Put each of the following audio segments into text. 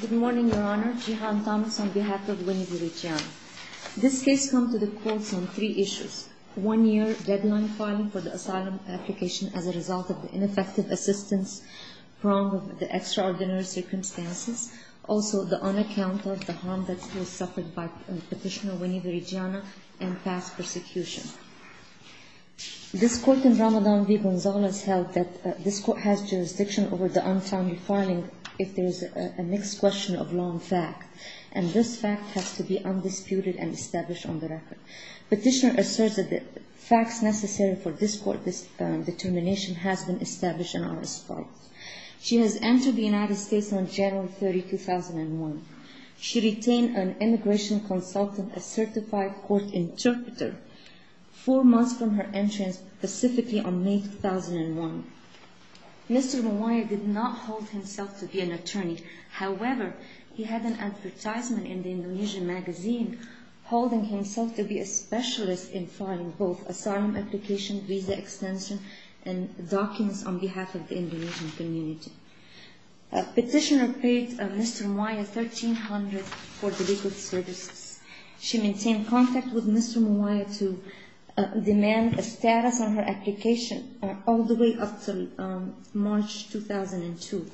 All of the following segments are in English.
Good morning, Your Honor. Jehan Thomas on behalf of Winnie v. Ridgiana. This case comes to the courts on three issues. One year deadline filing for the asylum application as a result of the ineffective assistance from the extraordinary circumstances. Also, the unaccountable harm that was suffered by petitioner Winnie v. Ridgiana and past persecution. This court in Ramadan v. Gonzales held that this court has jurisdiction over the unfounded filing if there is a mixed question of long fact. And this fact has to be undisputed and established on the record. Petitioner asserts that the facts necessary for this court determination has been established in our respect. She has entered the United States on January 30, 2001. She retained an immigration consultant, a certified court interpreter, four months from her entrance, specifically on May 2001. Mr. Mawaya did not hold himself to be an attorney. However, he had an advertisement in the Indonesian magazine, holding himself to be a specialist in filing both asylum application, visa extension, and documents on behalf of the Indonesian community. Petitioner paid Mr. Mawaya 1,300 for the legal services. She maintained contact with Mr. Mawaya to demand a status on her application all the way up to March 2002.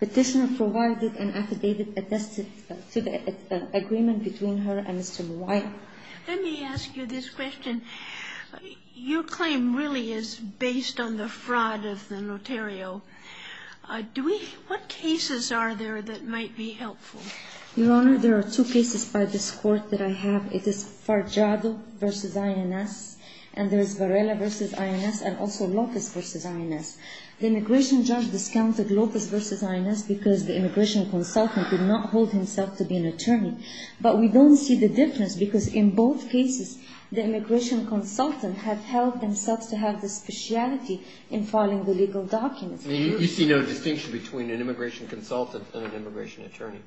Petitioner provided an affidavit attested to the agreement between her and Mr. Mawaya. Let me ask you this question. Your claim really is based on the fraud of the notario. Do we – what cases are there that might be helpful? Your Honor, there are two cases by this court that I have. It is Farjado v. INS, and there is Varela v. INS, and also Lopez v. INS. The immigration judge discounted Lopez v. INS because the immigration consultant did not hold himself to be an attorney. But we don't see the difference because in both cases, the immigration consultant has held themselves to have the speciality in filing the legal documents. You see no distinction between an immigration consultant and an immigration attorney?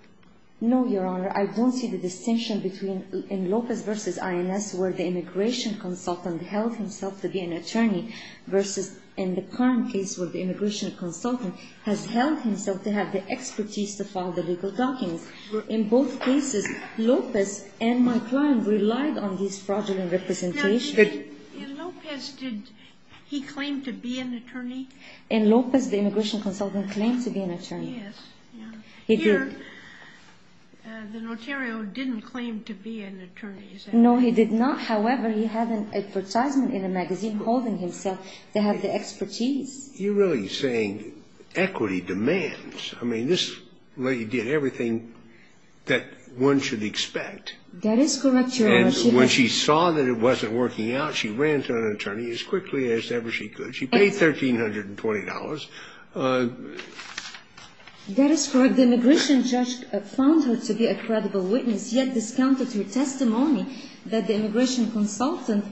No, Your Honor. I don't see the distinction between in Lopez v. INS where the immigration consultant held himself to be an attorney versus in the current case where the immigration consultant has held himself to have the expertise to file the legal documents. In both cases, Lopez and my client relied on this fraudulent representation. In Lopez, did he claim to be an attorney? In Lopez, the immigration consultant claimed to be an attorney. Yes. He did. Here, the notario didn't claim to be an attorney. No, he did not. However, he had an advertisement in a magazine holding himself to have the expertise. You're really saying equity demands. I mean, this lady did everything that one should expect. That is correct, Your Honor. And when she saw that it wasn't working out, she ran to an attorney as quickly as ever she could. She paid $1,320. That is correct. The immigration judge found her to be a credible witness, yet discounted her testimony that the immigration consultant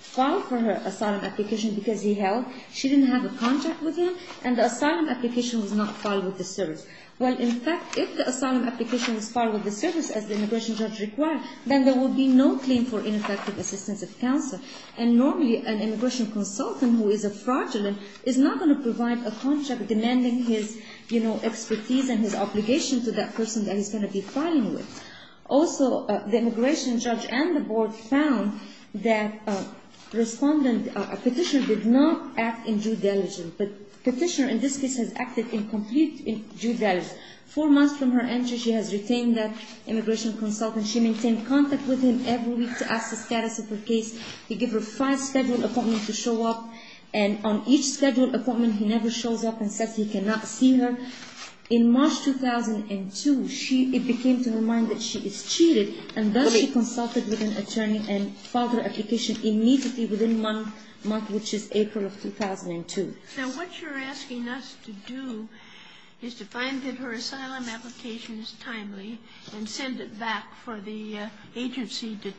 filed for her asylum application because he held. She didn't have a contract with him, and the asylum application was not filed with the service. Well, in fact, if the asylum application was filed with the service, as the immigration judge required, then there would be no claim for ineffective assistance of counsel. And normally, an immigration consultant who is a fraudulent is not going to provide a contract demanding his expertise and his obligation to that person that he's going to be filing with. Also, the immigration judge and the board found that a petitioner did not act in due diligence. But the petitioner in this case has acted in complete due diligence. Four months from her entry, she has retained that immigration consultant. She maintained contact with him every week to ask the status of her case. He gave her five scheduled appointments to show up, and on each scheduled appointment, he never shows up and says he cannot see her. In March 2002, it became to her mind that she is cheated, and thus she consulted with an attorney and filed her application immediately within one month, which is April of 2002. Now, what you're asking us to do is to find that her asylum application is timely and send it back for the agency to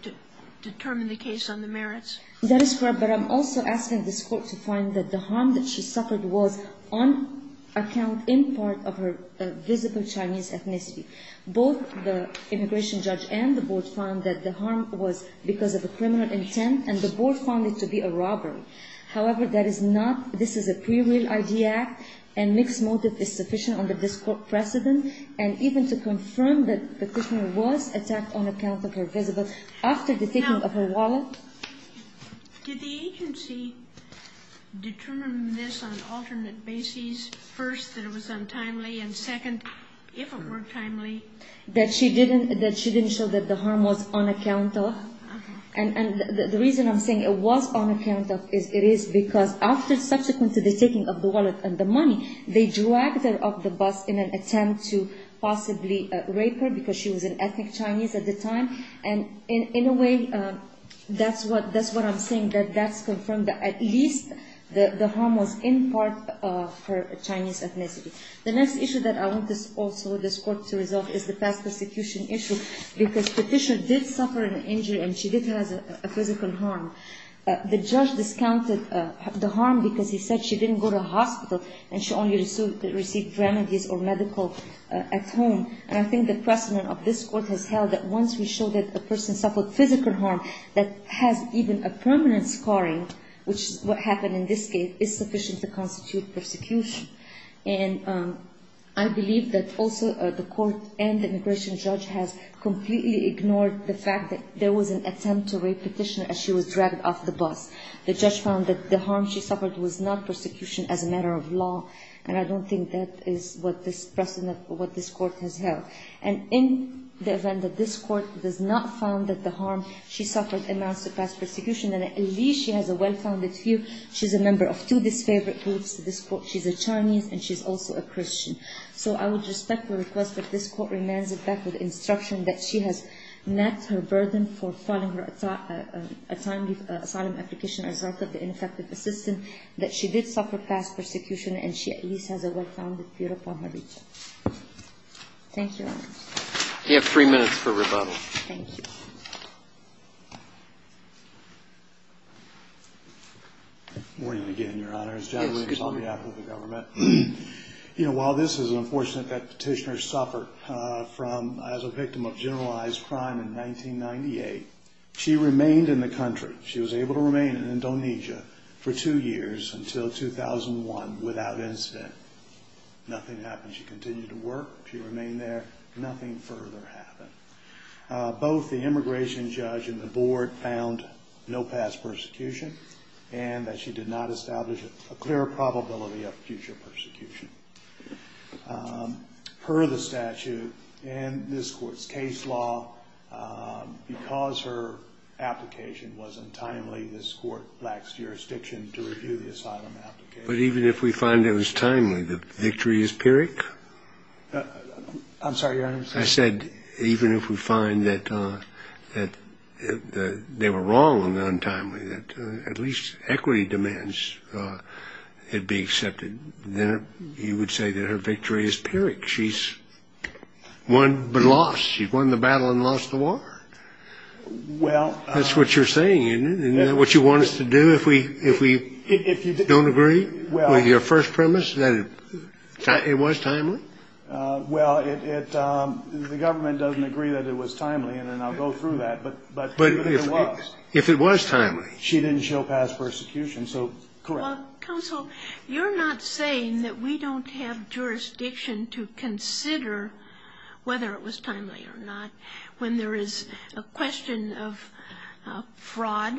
determine the case on the merits? That is correct. But I'm also asking this Court to find that the harm that she suffered was on account in part of her visible Chinese ethnicity. Both the immigration judge and the board found that the harm was because of a criminal intent, and the board found it to be a robbery. However, that is not — this is a pre-real ID act, and mixed motive is sufficient on this Court precedent, and even to confirm that the prisoner was attacked on account of her visible — after the taking of her wallet. Now, did the agency determine this on alternate bases? First, that it was untimely, and second, if it were timely? That she didn't show that the harm was on account of? Uh-huh. And the reason I'm saying it was on account of is it is because after subsequent to the taking of the wallet and the money, they dragged her off the bus in an attempt to possibly rape her, because she was an ethnic Chinese at the time. And in a way, that's what I'm saying, that that's confirmed that at least the harm was in part of her Chinese ethnicity. The next issue that I want also this Court to resolve is the past persecution issue, because Patricia did suffer an injury, and she did have a physical harm. The judge discounted the harm because he said she didn't go to hospital, and she only received remedies or medical at home. And I think the precedent of this Court has held that once we show that a person suffered physical harm that has even a permanent scarring, which is what happened in this case, is sufficient to constitute persecution. And I believe that also the Court and the immigration judge has completely ignored the fact that there was an attempt to rape Petitioner as she was dragged off the bus. The judge found that the harm she suffered was not persecution as a matter of law, and I don't think that is what this precedent or what this Court has held. And in the event that this Court does not found that the harm she suffered amounts to past persecution, then at least she has a well-founded view. She's a member of two disfavored groups in this Court. She's a Chinese, and she's also a Christian. So I would respect the request that this Court remands it back with instruction that she has a burden for filing a timely asylum application as right of the ineffective assistant, that she did suffer past persecution, and she at least has a well-founded view upon her reach. Thank you, Your Honor. You have three minutes for rebuttal. Thank you. Good morning again, Your Honor. It's John Williams on behalf of the government. You know, while this is unfortunate that Petitioner suffered from as a victim of generalized crime in 1998, she remained in the country. She was able to remain in Indonesia for two years until 2001 without incident. Nothing happened. She continued to work. She remained there. Nothing further happened. Both the immigration judge and the board found no past persecution, and that she did not establish a clear probability of future persecution. Per the statute and this Court's case law, because her application was untimely, this Court lacks jurisdiction to review the asylum application. But even if we find it was timely, the victory is pyrrhic? I'm sorry, Your Honor. I said even if we find that they were wrong on the untimely, that at least equity demands it be accepted, then you would say that her victory is pyrrhic. She's won but lost. She won the battle and lost the war. That's what you're saying, isn't it? Isn't that what you want us to do if we don't agree with your first premise, that it was timely? Well, the government doesn't agree that it was timely, and I'll go through that. But if it was timely, she didn't show past persecution, so correct. Counsel, you're not saying that we don't have jurisdiction to consider whether it was timely or not. When there is a question of fraud,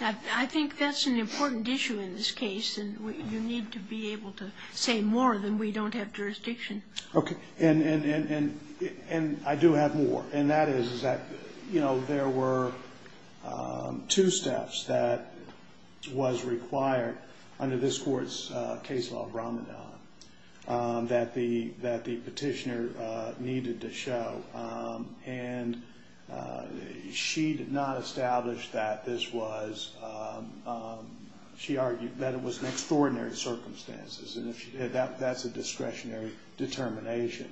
I think that's an important issue in this case, and you need to be able to say more than we don't have jurisdiction. Okay. And I do have more. And that is that there were two steps that was required under this court's case law, Ramadan, that the petitioner needed to show, and she did not establish that this was, she argued that it was an extraordinary circumstances, and that's a discretionary determination.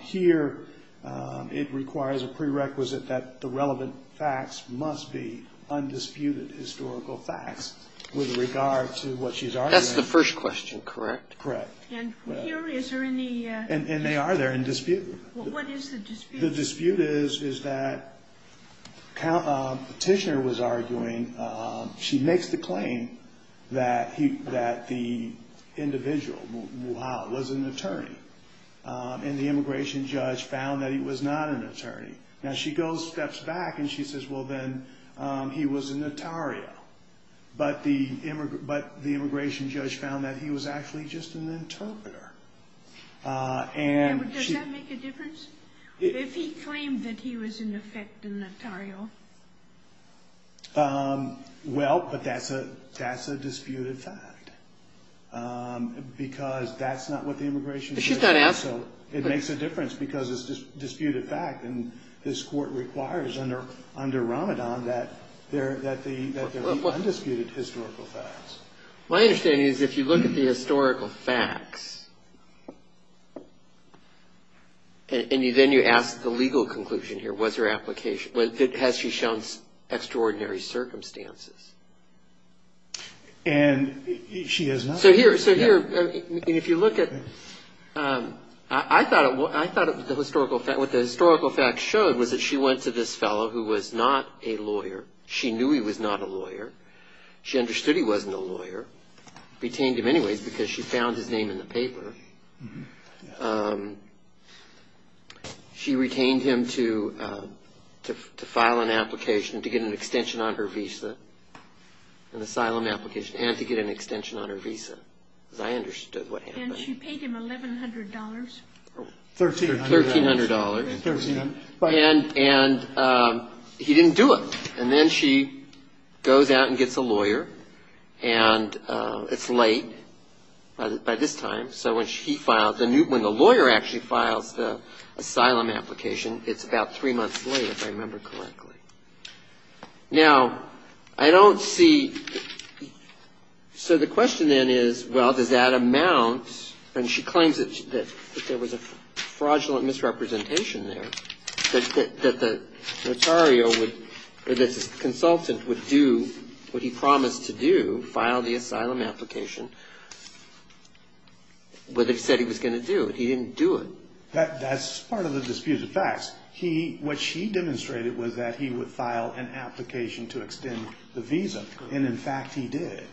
Here, it requires a prerequisite that the relevant facts must be undisputed historical facts, with regard to what she's arguing. That's the first question, correct? Correct. And here, is there any... And they are there in dispute. What is the dispute? The dispute is that petitioner was arguing, she makes the claim that the individual, Muhammad, was an attorney, and the immigration judge found that he was not an attorney. Now, she goes, steps back, and she says, well then, he was a notario, but the immigration judge found that he was actually just an interpreter. Does that make a difference? If he claimed that he was, in effect, a notario? Well, but that's a disputed fact. Because that's not what the immigration judge... But she's not asking... It makes a difference, because it's a disputed fact, and this court requires under Ramadan that there be undisputed historical facts. My understanding is, if you look at the historical facts, and then you ask the legal conclusion here, what's her application, has she shown extraordinary circumstances? And she has not. So here, if you look at... I thought what the historical facts showed was that she went to this fellow who was not a lawyer. She knew he was not a lawyer. She understood he wasn't a lawyer. Retained him anyways, because she found his name in the paper. She retained him to file an application to get an extension on her visa. An asylum application. And to get an extension on her visa. Because I understood what happened. And she paid him $1,100? $1,300. And he didn't do it. And then she goes out and gets a lawyer. And it's late by this time. So when the lawyer actually files the asylum application, it's about three months late, if I remember correctly. Now, I don't see... So the question then is, well, does that amount... And she claims that there was a fraudulent misrepresentation there. That the notario would... That the consultant would do what he promised to do, file the asylum application, where they said he was going to do it. He didn't do it. That's part of the disputed facts. What she demonstrated was that he would file an application to extend the visa. And in fact, he did.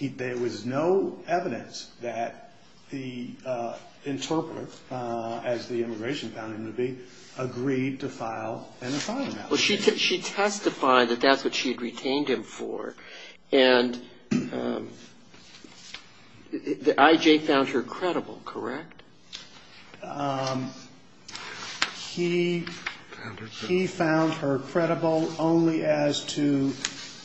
There was no evidence that the interpreter, as the immigration found him to be, agreed to file an asylum application. Well, she testified that that's what she had retained him for. And the IJ found her credible, correct? He found her credible only as to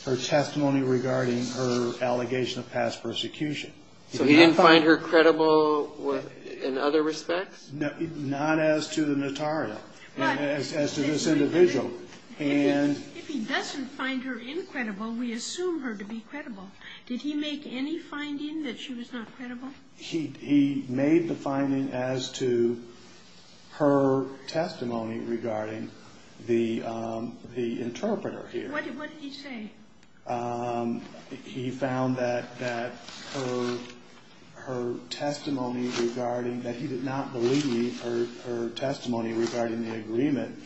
her testimony regarding her allegation of past persecution. So he didn't find her credible in other respects? Not as to the notario. As to this individual. And... If he doesn't find her incredible, we assume her to be credible. Did he make any finding that she was not credible? He made the finding as to her testimony regarding the interpreter here. What did he say? He found that her testimony regarding... That he did not believe her testimony regarding the agreement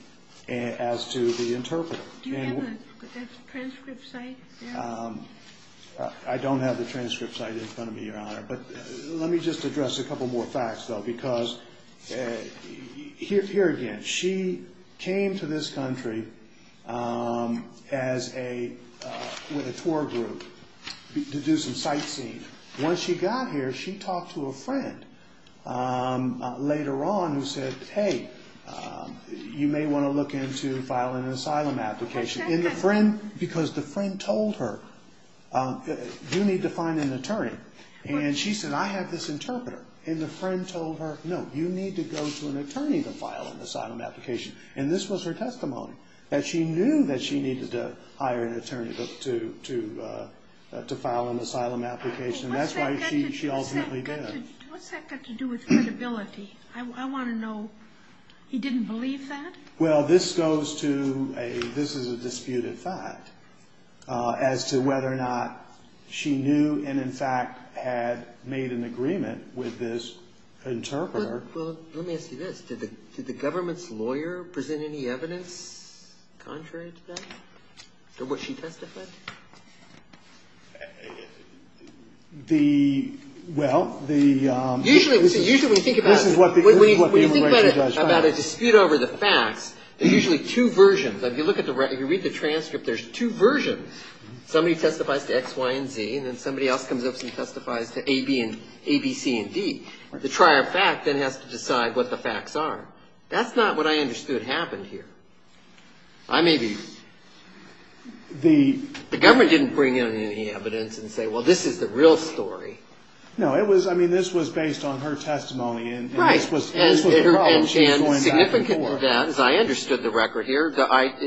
as to the interpreter. Do you have the transcript site there? I don't have the transcript site in front of me, Your Honor. But let me just address a couple more facts, though. Because here again, she came to this country with a tour group to do some sightseeing. Once she got here, she talked to a friend later on who said, hey, you may want to look into filing an asylum application. Because the friend told her, you need to find an attorney. And she said, I have this interpreter. And the friend told her, no, you need to go to an attorney to file an asylum application. And this was her testimony. That she knew that she needed to hire an attorney to file an asylum application. And that's why she ultimately did. What's that got to do with credibility? I want to know. He didn't believe that? Well, this goes to a... This is a disputed fact. As to whether or not she knew and, in fact, had made an agreement with this interpreter. Well, let me ask you this. Did the government's lawyer present any evidence contrary to that? For what she testified? The, well, the... Usually when you think about... This is what the immigration judge... When you think about a dispute over the facts, there are usually two versions. If you look at the... If you read the transcript, there's two versions. Somebody testifies to X, Y, and Z. And then somebody else comes up and testifies to A, B, and... A, B, C, and D. The trier of fact then has to decide what the facts are. That's not what I understood happened here. I may be... The... The government didn't bring in any evidence and say, well, this is the real story. No, it was... I mean, this was based on her testimony. Right. And significant to that, as I understood the record here,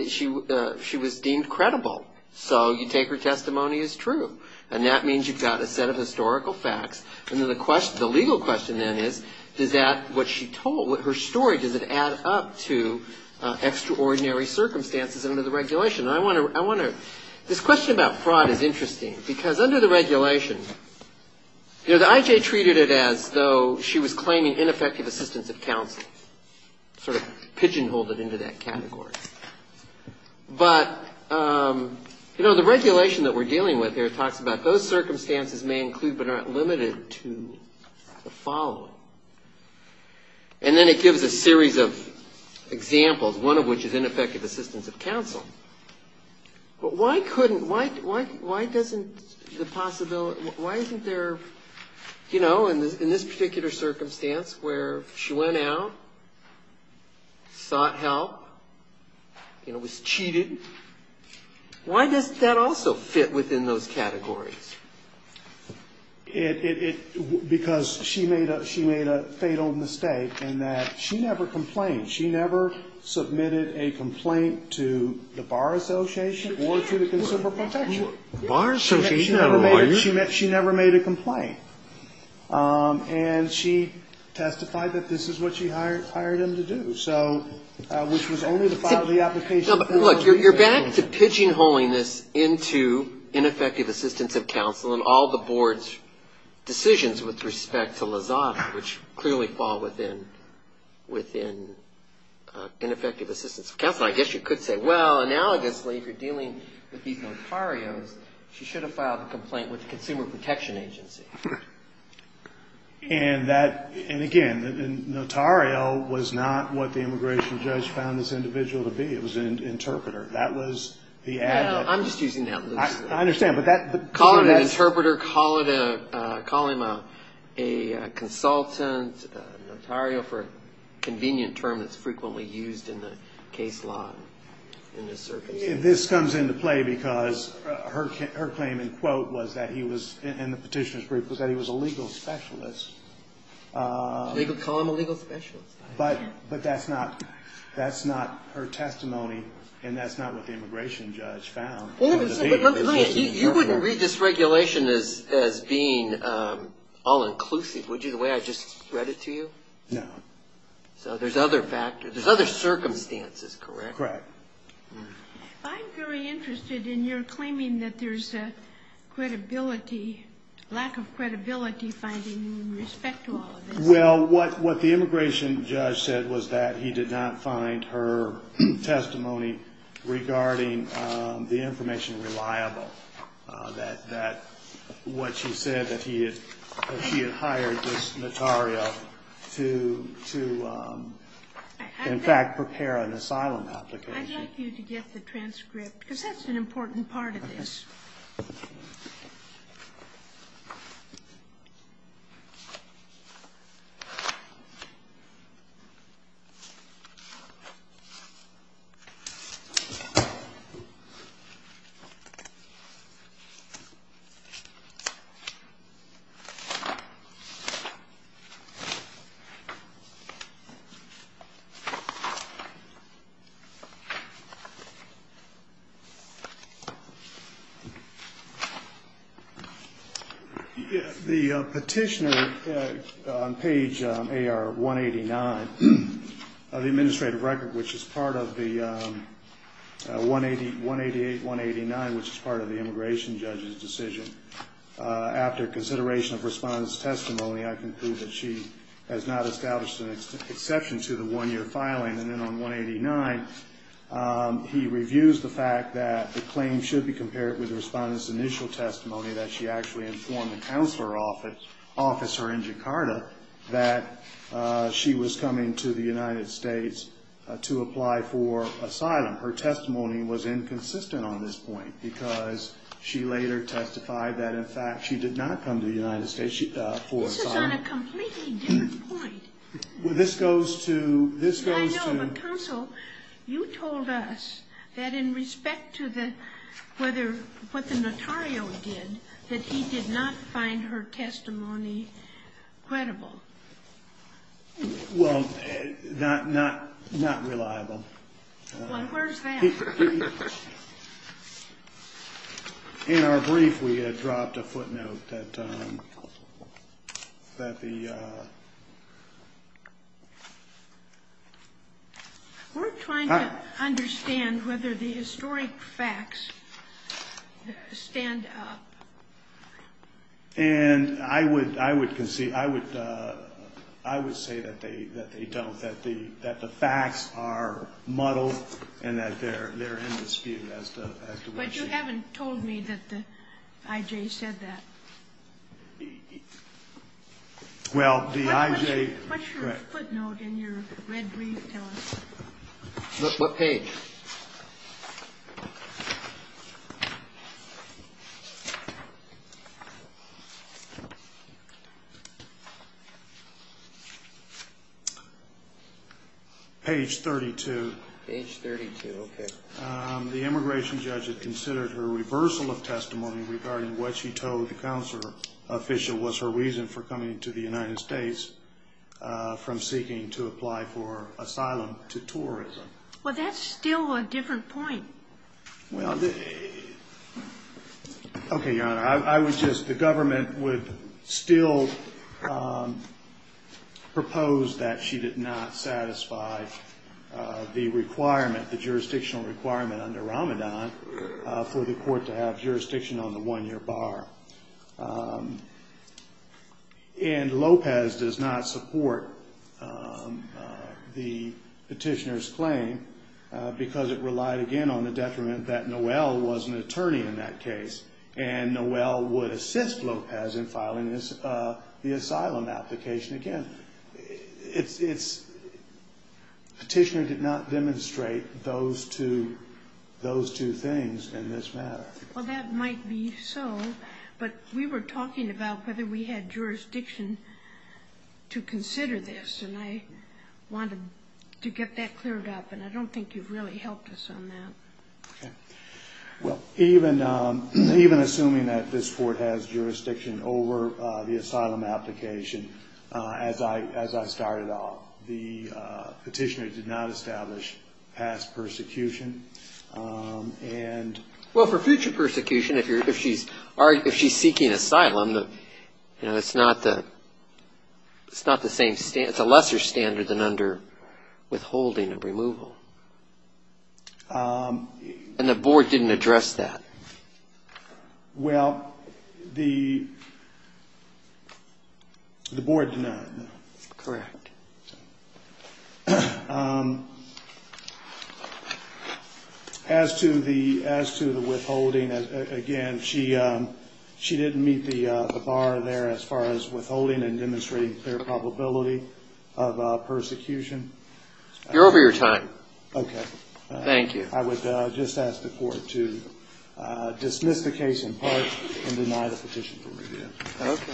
she was deemed credible. So you take her testimony as true. And that means you've got a set of historical facts. And then the legal question then is, does that, what she told, her story, does it add up to extraordinary circumstances under the regulation? I want to... This question about fraud is interesting. Because under the regulation, the I.J. treated it as though she was claiming ineffective assistance of counsel. Sort of pigeonholed it into that category. But, you know, the regulation that we're dealing with here talks about those circumstances may include but aren't limited to the following. And then it gives a series of examples, one of which is ineffective assistance of counsel. But why couldn't... Why doesn't the possibility... Why isn't there, you know, in this particular circumstance, where she went out, sought help, you know, was cheated? Why doesn't that also fit within those categories? It... Because she made a fatal mistake in that she never complained. She never submitted a complaint to the Bar Association or to the Consumer Protection. The Bar Association had a lawyer. She never made a complaint. And she testified that this is what she hired him to do. So, which was only to file the application... No, but look, you're back to pigeonholing this into ineffective assistance of counsel and all the board's decisions with respect to Lozada, which clearly fall within ineffective assistance of counsel. I guess you could say, well, analogously, if you're dealing with these notarios, she should have filed a complaint with the Consumer Protection Agency. And that... And, again, notario was not what the immigration judge found this individual to be. It was an interpreter. That was the adjective. I'm just using that loosely. I understand, but that... Call it an interpreter. Call it a... Call him a consultant, notario for a convenient term that's frequently used in the case law in this circumstance. This comes into play because her claim in quote was that he was, in the petitioner's brief, was that he was a legal specialist. They could call him a legal specialist. But that's not her testimony, and that's not what the immigration judge found. You wouldn't read this regulation as being all-inclusive, would you, the way I just read it to you? No. So there's other circumstances, correct? Correct. I'm very interested in your claiming that there's a credibility, lack of credibility finding in respect to all of this. Well, what the immigration judge said was that he did not find her testimony regarding the information reliable, that what she said, that she had hired this notario to, in fact, prepare an asylum application. I'd like you to get the transcript because that's an important part of this. Okay. The petitioner on page AR 189 of the administrative record, which is part of the 188, 189, which is part of the immigration judge's decision, after consideration of respondents' testimony, I conclude that she has not established an exception to the one-year filing. And then on 189, he reviews the fact that the claim should be compared with the respondent's initial testimony that she actually informed the counselor officer in Jakarta that she was coming to the United States to apply for asylum. Her testimony was inconsistent on this point because she later testified that, in fact, she did not come to the United States for asylum. This is on a completely different point. Well, this goes to ‑‑ I know, but, counsel, you told us that in respect to what the notario did, that he did not find her testimony credible. Well, not reliable. Well, where's that? In our brief, we had dropped a footnote that the ‑‑ We're trying to understand whether the historic facts stand up. And I would concede, I would say that they don't, that the facts are muddled and that they're in dispute as to whether she ‑‑ But you haven't told me that the I.J. said that. Well, the I.J. What's your footnote in your red brief telling us? What page? Page 32. Page 32, okay. The immigration judge had considered her reversal of testimony regarding what she told the counselor official was her reason for coming to the United States from seeking to apply for asylum to tourism. Well, that's still a different point. Well, okay, Your Honor. I was just ‑‑ the government would still propose that she did not satisfy the requirement, the jurisdictional requirement under Ramadan for the court to have jurisdiction on the one‑year bar. And Lopez does not support the petitioner's claim because it relied, again, on the detriment that Noel was an attorney in that case. And Noel would assist Lopez in filing the asylum application again. Petitioner did not demonstrate those two things in this matter. Well, that might be so. But we were talking about whether we had jurisdiction to consider this. And I wanted to get that cleared up. And I don't think you've really helped us on that. Okay. Well, even assuming that this court has jurisdiction over the asylum application, as I started off, the petitioner did not establish past persecution. Well, for future persecution, if she's seeking asylum, it's not the same ‑‑ it's a lesser standard than under withholding of removal. And the board didn't address that. Well, the board did not. Correct. As to the withholding, again, she didn't meet the bar there as far as withholding and demonstrating clear probability of persecution. You're over your time. Okay. Thank you. I would just ask the Court to dismiss the case in part and deny the petition for review. Okay.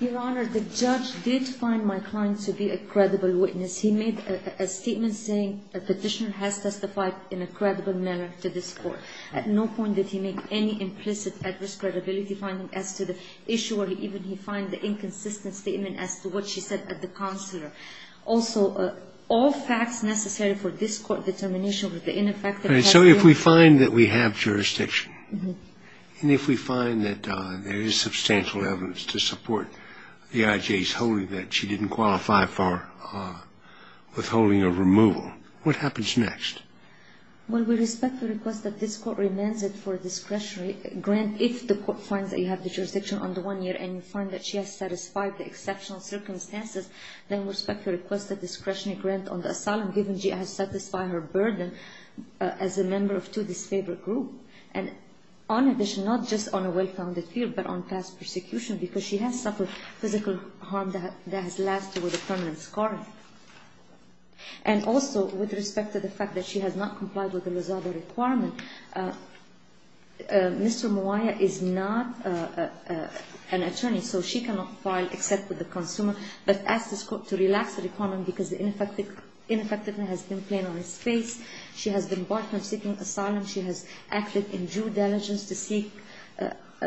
Your Honor, the judge did find my client to be a credible witness. He made a statement saying a petitioner has testified in a credible manner to this Court. At no point did he make any implicit adverse credibility finding as to the issue, or even he find the inconsistent statement as to what she said at the counselor. Also, all facts necessary for this Court determination of the ineffective ‑‑ So if we find that we have jurisdiction, and if we find that there is substantial evidence to support the IJ's holding that she didn't qualify for withholding of removal, what happens next? Well, we respectfully request that this Court remands it for discretionary grant if the Court finds that you have jurisdiction under one year, and you find that she has satisfied the exceptional circumstances, then we respectfully request a discretionary grant on the asylum, given she has satisfied her burden as a member of two disfavored groups. And on addition, not just on a well‑founded field, but on past persecution, because she has suffered physical harm that has lasted with a permanent scar. And also, with respect to the fact that she has not complied with the Lozada requirement, Mr. Mowaia is not an attorney, so she cannot file except with the consumer. But ask this Court to relax the requirement because the ineffectiveness has been plain on its face. She has been barred from seeking asylum. She has acted in due diligence to seek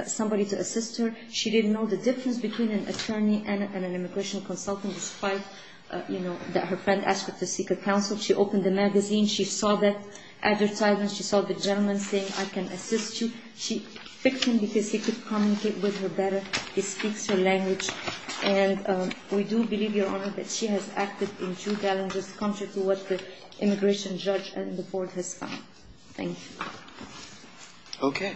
somebody to assist her. She didn't know the difference between an attorney and an immigration consultant, despite, you know, that her friend asked her to seek a counsel. She opened the magazine. She saw that advertisement. She saw the gentleman saying, I can assist you. She picked him because he could communicate with her better. He speaks her language. And we do believe, Your Honor, that she has acted in due diligence, contrary to what the immigration judge and the Board has found. Thank you. Okay. Thank you.